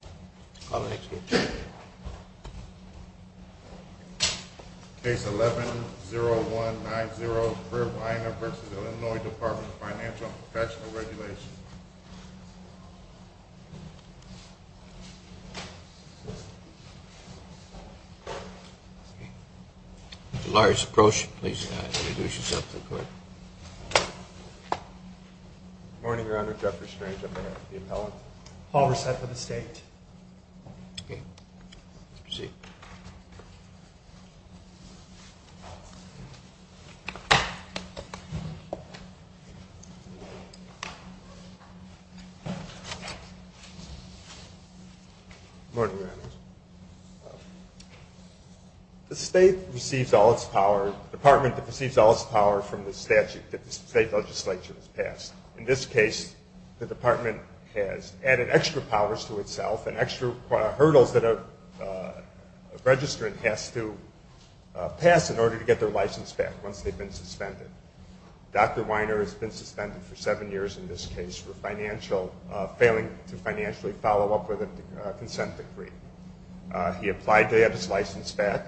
Case 11-0190, Brewer-Weiner v. Illinois Dept. of Financial and Professional Regulation Good morning, Your Honor. Jeffrey Strange, Appellant. Hall reset for the State. Okay. Proceed. Good morning, Your Honor. The State receives all its power, the Department receives all its power from the statute that the State Legislature has passed. In this case, the Department has added extra powers to itself and extra hurdles that a registrant has to pass in order to get their license back once they've been suspended. Dr. Weiner has been suspended for seven years in this case for failing to financially follow up with a consent decree. He applied to have his license back,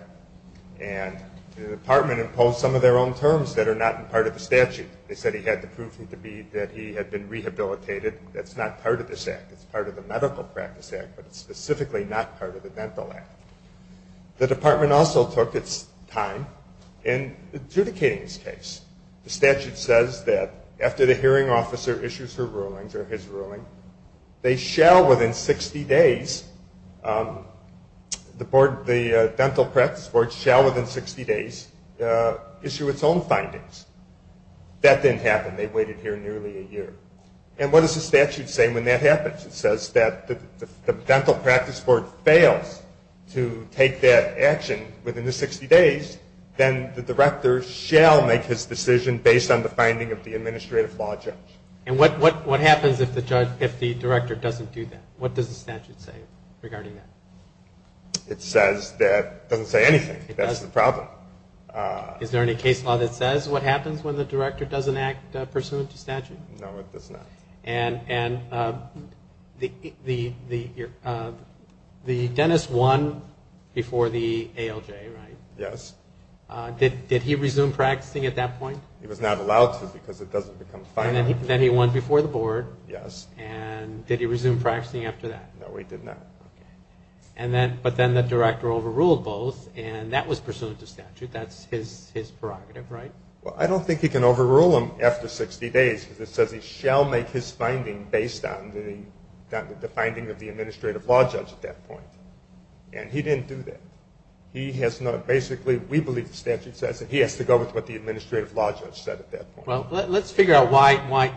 and the Department imposed some of their own terms that are not part of the statute. They said he had to prove to me that he had been rehabilitated. That's not part of this act. It's part of the Medical Practice Act, but it's specifically not part of the Dental Act. The Department also took its time in adjudicating this case. The statute says that after the hearing officer issues his ruling, they shall within 60 days, the Dental Practice Board shall within 60 days issue its own findings. That didn't happen. They waited here nearly a year. And what does the statute say when that happens? It says that if the Dental Practice Board fails to take that action within the 60 days, then the director shall make his decision based on the finding of the administrative law judge. And what happens if the director doesn't do that? What does the statute say regarding that? It doesn't say anything. That's the problem. Is there any case law that says what happens when the director doesn't act pursuant to statute? No, it does not. And the dentist won before the ALJ, right? Yes. Did he resume practicing at that point? He was not allowed to because it doesn't become final. Then he won before the board. Yes. And did he resume practicing after that? No, he did not. But then the director overruled both, and that was pursuant to statute. That's his prerogative, right? Well, I don't think he can overrule him after 60 days because it says he shall make his finding based on the finding of the administrative law judge at that point. And he didn't do that. Basically, we believe the statute says that he has to go with what the administrative law judge said at that point. Well, let's figure out why.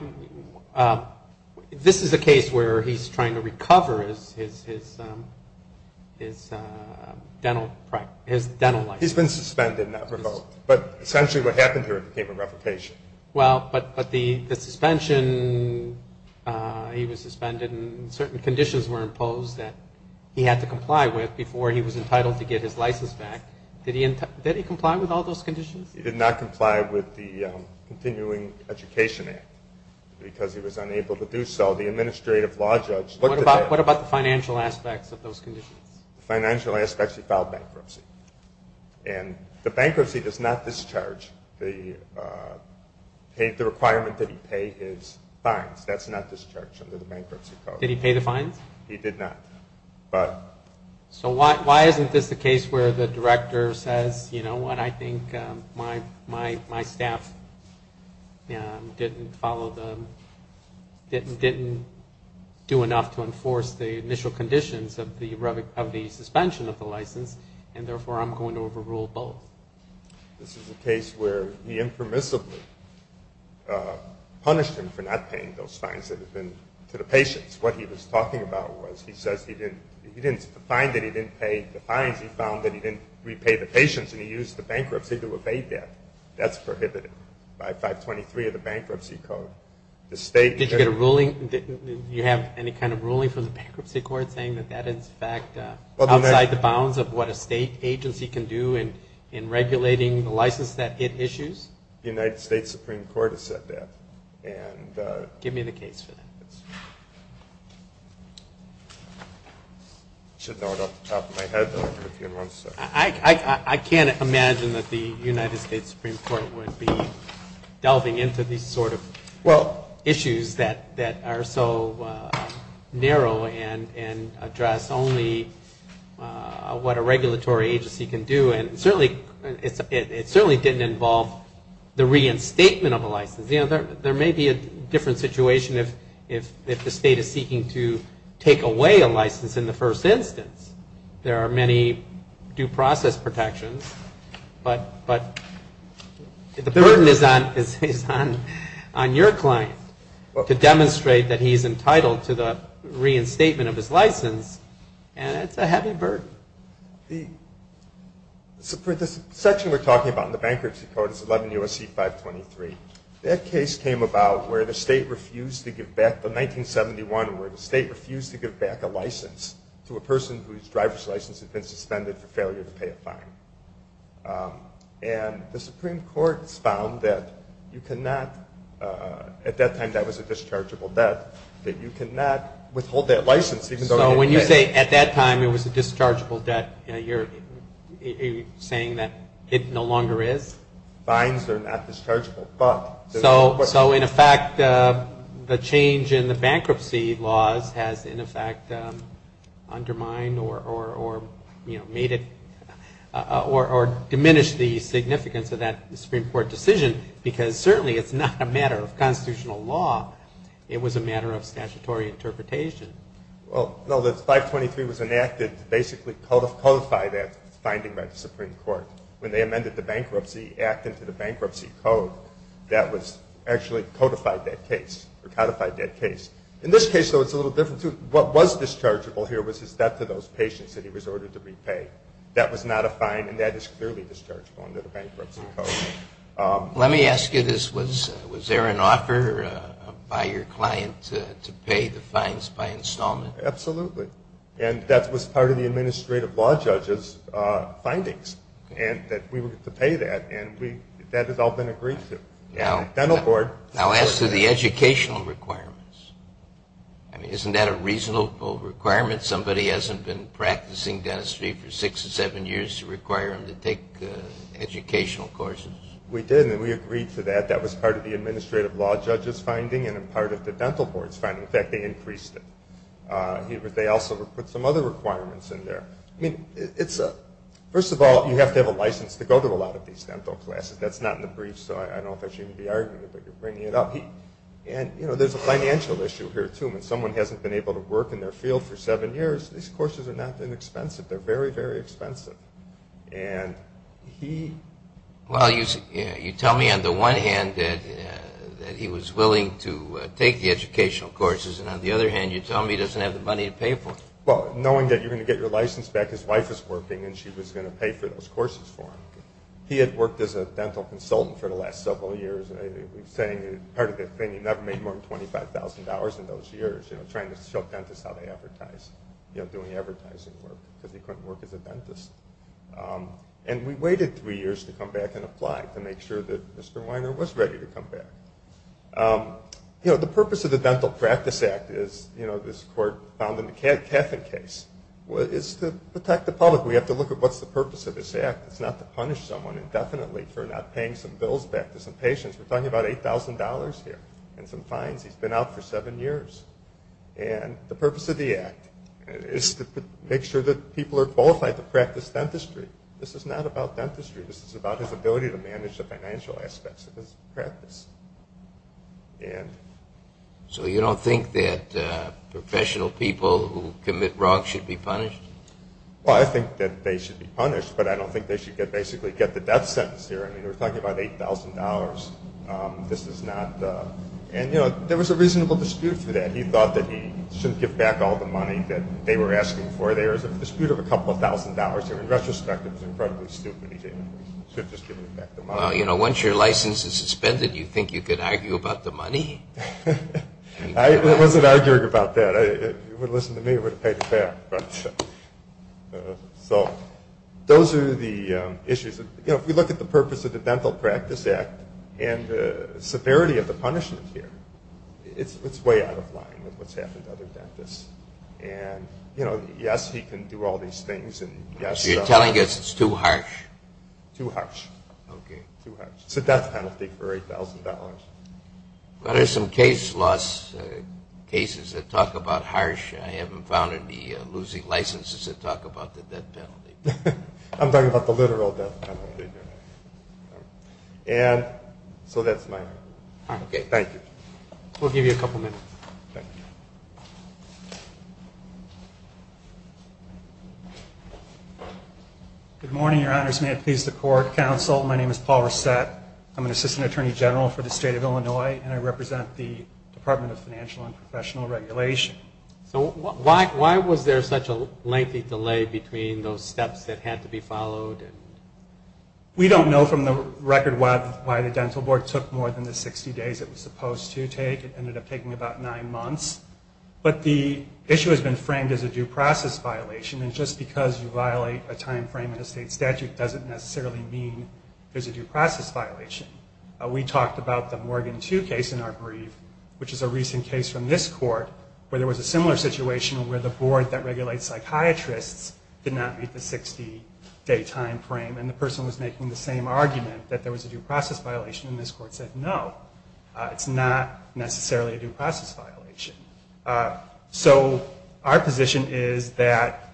This is a case where he's trying to recover his dental license. He's been suspended, not revoked, but essentially what happened to him became a replication. Well, but the suspension, he was suspended and certain conditions were imposed that he had to comply with before he was entitled to get his license back. Did he comply with all those conditions? He did not comply with the Continuing Education Act because he was unable to do so. The administrative law judge looked at that. What about the financial aspects of those conditions? The financial aspects, he filed bankruptcy. And the bankruptcy does not discharge the requirement that he pay his fines. That's not discharged under the bankruptcy code. Did he pay the fines? He did not. So why isn't this the case where the director says, you know what, I think my staff didn't do enough to enforce the initial conditions of the suspension of the license, and therefore I'm going to overrule both? This is a case where he impermissibly punished him for not paying those fines that had been to the patients. What he was talking about was he says he didn't find that he didn't pay the fines. He found that he didn't repay the patients, and he used the bankruptcy to evade that. That's prohibited by 523 of the bankruptcy code. Did you get a ruling? Do you have any kind of ruling from the bankruptcy court saying that that is, in fact, outside the bounds of what a state agency can do in regulating the license that it issues? The United States Supreme Court has said that. Give me the case for that. I should know it off the top of my head. I can't imagine that the United States Supreme Court would be delving into these sort of issues that are so narrow and address only what a regulatory agency can do. And it certainly didn't involve the reinstatement of a license. You know, there may be a different situation if the state is seeking to take away a license in the first instance. There are many due process protections, but the burden is on your client to demonstrate that he's entitled to the reinstatement of his license, and it's a heavy burden. The section we're talking about in the bankruptcy code is 11 U.S.C. 523. That case came about where the state refused to give back, the 1971 where the state refused to give back a license to a person whose driver's license had been suspended for failure to pay a fine. And the Supreme Court found that you cannot, at that time that was a dischargeable debt, that you cannot withhold that license even though it had been paid. When you say at that time it was a dischargeable debt, you're saying that it no longer is? Fines are not dischargeable. So, in effect, the change in the bankruptcy laws has, in effect, undermined or, you know, made it or diminished the significance of that Supreme Court decision because certainly it's not a matter of constitutional law. It was a matter of statutory interpretation. Well, no, the 523 was enacted to basically codify that finding by the Supreme Court. When they amended the Bankruptcy Act into the bankruptcy code, that was actually codified that case, or codified that case. In this case, though, it's a little different, too. What was dischargeable here was his debt to those patients that he was ordered to repay. That was not a fine, and that is clearly dischargeable under the bankruptcy code. Let me ask you this. Was there an offer by your client to pay the fines by installment? Absolutely, and that was part of the administrative law judge's findings, and that we were to pay that, and that has all been agreed to. Now, as to the educational requirements, I mean, isn't that a reasonable requirement? Somebody hasn't been practicing dentistry for six or seven years to require them to take educational courses. We did, and we agreed to that. That was part of the administrative law judge's finding and part of the dental board's finding. In fact, they increased it. They also put some other requirements in there. I mean, first of all, you have to have a license to go to a lot of these dental classes. That's not in the briefs, so I don't know if I should even be arguing it, but you're bringing it up. There's a financial issue here, too. When someone hasn't been able to work in their field for seven years, these courses are not inexpensive. They're very, very expensive. You tell me on the one hand that he was willing to take the educational courses, and on the other hand you tell me he doesn't have the money to pay for them. Well, knowing that you're going to get your license back, his wife was working, and she was going to pay for those courses for him. He had worked as a dental consultant for the last several years. We're saying part of the thing, he never made more than $25,000 in those years, trying to show dentists how to advertise, doing advertising work, because he couldn't work as a dentist. And we waited three years to come back and apply to make sure that Mr. Weiner was ready to come back. The purpose of the Dental Practice Act is, this court found in the Kathin case, is to protect the public. We have to look at what's the purpose of this act. It's not to punish someone indefinitely for not paying some bills back to some patients. We're talking about $8,000 here and some fines. He's been out for seven years. And the purpose of the act is to make sure that people are qualified to practice dentistry. This is not about dentistry. This is about his ability to manage the financial aspects of his practice. So you don't think that professional people who commit wrongs should be punished? Well, I think that they should be punished, but I don't think they should basically get the death sentence here. I mean, we're talking about $8,000. And, you know, there was a reasonable dispute through that. He thought that he shouldn't give back all the money that they were asking for. There was a dispute of a couple of thousand dollars there. In retrospect, it was incredibly stupid. He should have just given back the money. Well, you know, once your license is suspended, you think you could argue about the money? I wasn't arguing about that. If you would have listened to me, I would have paid it back. So those are the issues. You know, if we look at the purpose of the Dental Practice Act and the severity of the punishment here, it's way out of line with what's happened to other dentists. And, you know, yes, he can do all these things. So you're telling us it's too harsh? Too harsh. Okay. Too harsh. It's a death penalty for $8,000. Well, there's some case laws, cases that talk about harsh. I haven't found any losing licenses that talk about the death penalty. I'm talking about the literal death penalty. And so that's my conclusion. Okay. Thank you. We'll give you a couple minutes. Thank you. Good morning, Your Honors. May it please the Court, Counsel. My name is Paul Resett. I'm an Assistant Attorney General for the State of Illinois, and I represent the Department of Financial and Professional Regulation. So why was there such a lengthy delay between those steps that had to be followed? We don't know from the record why the dental board took more than the 60 days it was supposed to take. It ended up taking about nine months. But the issue has been framed as a due process violation, and just because you violate a time frame in a state statute doesn't necessarily mean there's a due process violation. We talked about the Morgan II case in our brief, which is a recent case from this court, where there was a similar situation where the board that regulates psychiatrists did not meet the 60-day time frame, and the person was making the same argument that there was a due process violation, and this court said no, it's not necessarily a due process violation. So our position is that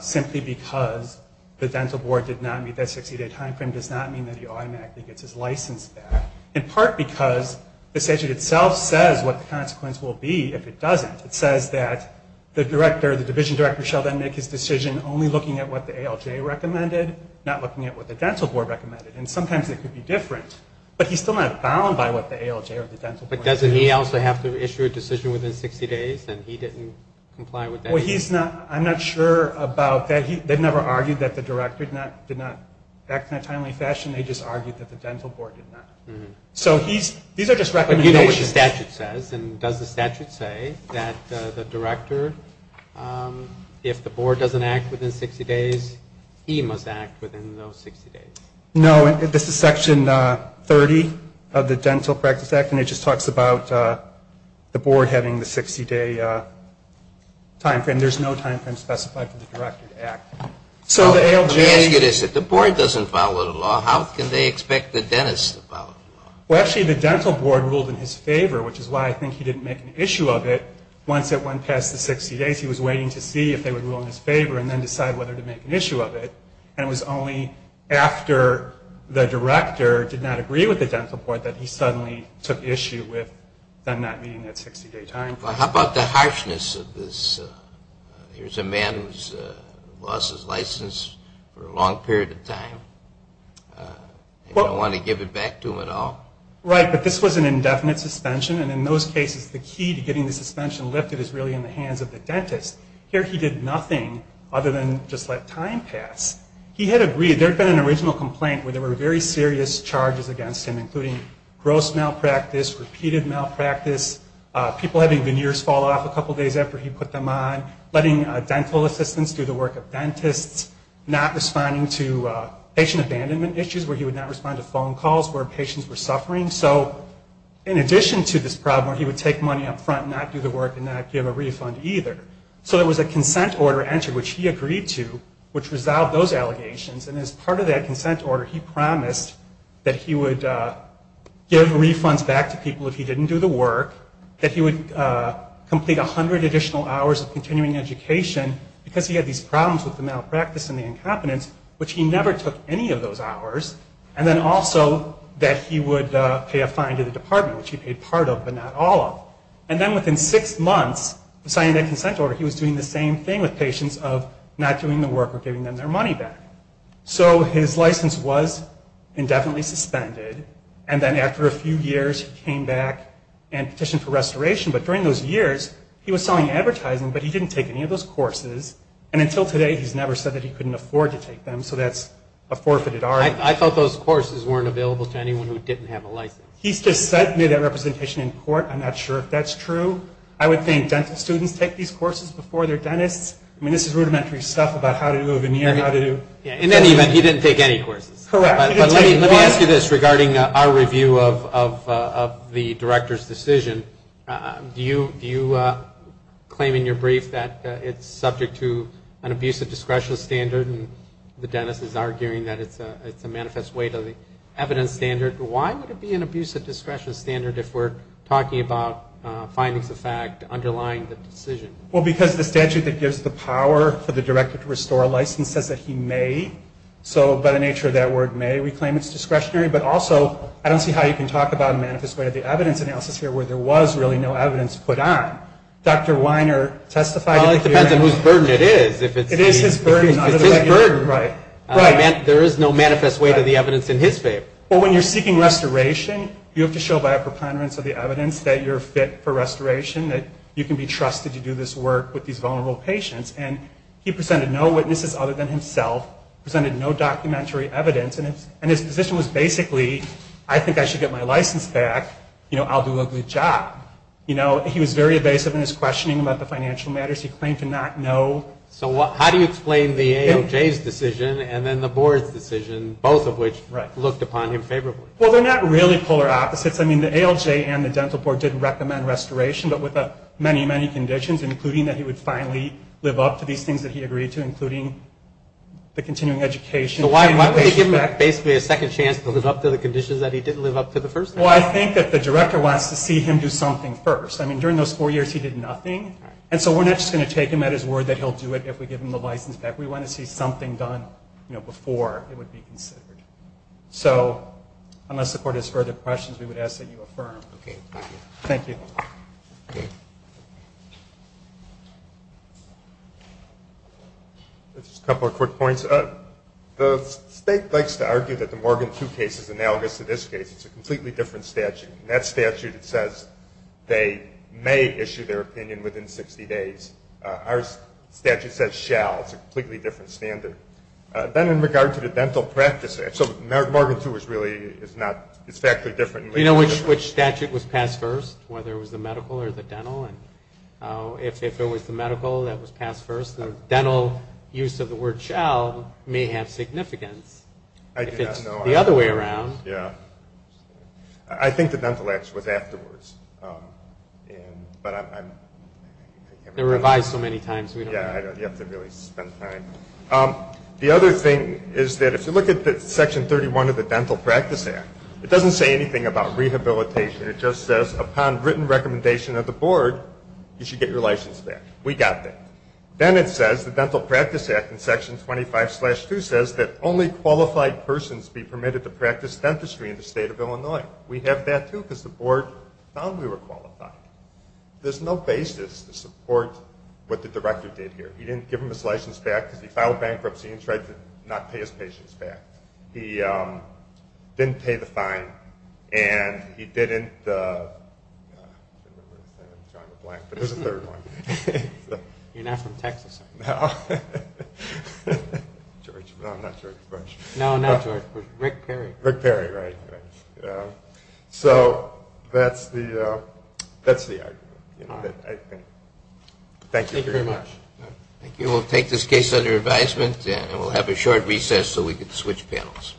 simply because the dental board did not meet that 60-day time frame does not mean that he automatically gets his license back, in part because the statute itself says what the consequence will be if it doesn't. It says that the division director shall then make his decision only looking at what the ALJ recommended, not looking at what the dental board recommended, and sometimes it could be different, but he's still not bound by what the ALJ or the dental board recommended. But doesn't he also have to issue a decision within 60 days, and he didn't comply with that? Well, I'm not sure about that. They've never argued that the director did not act in a timely fashion. They just argued that the dental board did not. So these are just recommendations. But you know what the statute says, and does the statute say that the director, if the board doesn't act within 60 days, he must act within those 60 days? No, this is Section 30 of the Dental Practice Act, and it just talks about the board having the 60-day time frame. There's no time frame specified for the director to act. Let me ask you this. If the board doesn't follow the law, how can they expect the dentist to follow the law? Well, actually, the dental board ruled in his favor, which is why I think he didn't make an issue of it. Once it went past the 60 days, he was waiting to see if they would rule in his favor and then decide whether to make an issue of it. And it was only after the director did not agree with the dental board that he suddenly took issue with them not meeting that 60-day time frame. Well, how about the harshness of this? Here's a man who's lost his license for a long period of time, and you don't want to give it back to him at all? Right, but this was an indefinite suspension, and in those cases the key to getting the suspension lifted is really in the hands of the dentist. Here he did nothing other than just let time pass. He had agreed. There had been an original complaint where there were very serious charges against him, including gross malpractice, repeated malpractice, people having veneers fall off a couple days after he put them on, letting dental assistants do the work of dentists, not responding to patient abandonment issues where he would not respond to phone calls where patients were suffering. So in addition to this problem where he would take money up front and not do the work and not give a refund either, so there was a consent order entered, which he agreed to, which resolved those allegations, and as part of that consent order he promised that he would give refunds back to people if he didn't do the work, that he would complete 100 additional hours of continuing education because he had these problems with the malpractice and the incompetence, which he never took any of those hours, and then also that he would pay a fine to the department, which he paid part of but not all of. And then within six months of signing that consent order, he was doing the same thing with patients of not doing the work or giving them their money back. So his license was indefinitely suspended, and then after a few years he came back and petitioned for restoration, but during those years he was selling advertising, but he didn't take any of those courses, and until today he's never said that he couldn't afford to take them, so that's a forfeited argument. He's just sent me that representation in court. I'm not sure if that's true. I would think dental students take these courses before their dentists. I mean, this is rudimentary stuff about how to do a veneer, how to do... In any event, he didn't take any courses. Correct. Let me ask you this regarding our review of the director's decision. Do you claim in your brief that it's subject to an abusive discretion standard and the dentist is arguing that it's a manifest way to the evidence standard? Why would it be an abusive discretion standard if we're talking about findings of fact underlying the decision? Well, because the statute that gives the power for the director to restore a license says that he may, so by the nature of that word may, we claim it's discretionary, but also I don't see how you can talk about a manifest way to the evidence analysis here where there was really no evidence put on. Dr. Weiner testified... Well, it depends on whose burden it is. It is his burden. If it's his burden, there is no manifest way to the evidence in his favor. Well, when you're seeking restoration, you have to show by a preponderance of the evidence that you're fit for restoration, that you can be trusted to do this work with these vulnerable patients, and he presented no witnesses other than himself, presented no documentary evidence, and his position was basically, I think I should get my license back. You know, I'll do a good job. You know, he was very evasive in his questioning about the financial matters. He claimed to not know... So how do you explain the AOJ's decision and then the board's decision, both of which looked upon him favorably? Well, they're not really polar opposites. I mean, the AOJ and the dental board did recommend restoration, but with many, many conditions, including that he would finally live up to these things that he agreed to, including the continuing education... So why would they give him basically a second chance to live up to the conditions that he didn't live up to the first time? Well, I think that the director wants to see him do something first. I mean, during those four years, he did nothing, and so we're not just going to take him at his word that he'll do it if we give him the license back. We want to see something done before it would be considered. So unless the court has further questions, we would ask that you affirm. Okay, thank you. Thank you. Just a couple of quick points. The state likes to argue that the Morgan II case is analogous to this case. It's a completely different statute. In that statute, it says they may issue their opinion within 60 days. Our statute says shall. It's a completely different standard. Then in regard to the dental practice, so Morgan II is really not exactly different. Do you know which statute was passed first, whether it was the medical or the dental? If it was the medical, that was passed first. The dental use of the word shall may have significance. I do not know. If it's the other way around. I think the dental act was afterwards. But I can't remember. They're revised so many times we don't know. Yeah, you have to really spend time. The other thing is that if you look at Section 31 of the Dental Practice Act, it doesn't say anything about rehabilitation. It just says upon written recommendation of the board, you should get your license back. We got that. Then it says, the Dental Practice Act in Section 25-2 says that only qualified persons be permitted to practice dentistry in the state of Illinois. We have that, too, because the board found we were qualified. There's no basis to support what the director did here. He didn't give him his license back because he filed bankruptcy and tried to not pay his patients back. He didn't pay the fine and he didn't, I'm drawing a blank, but there's a third one. You're not from Texas, are you? No. George, no, I'm not George Bush. No, not George Bush, Rick Perry. Rick Perry, right. So that's the argument, I think. Thank you very much. Thank you. We'll take this case under advisement and we'll have a short recess so we can switch panels.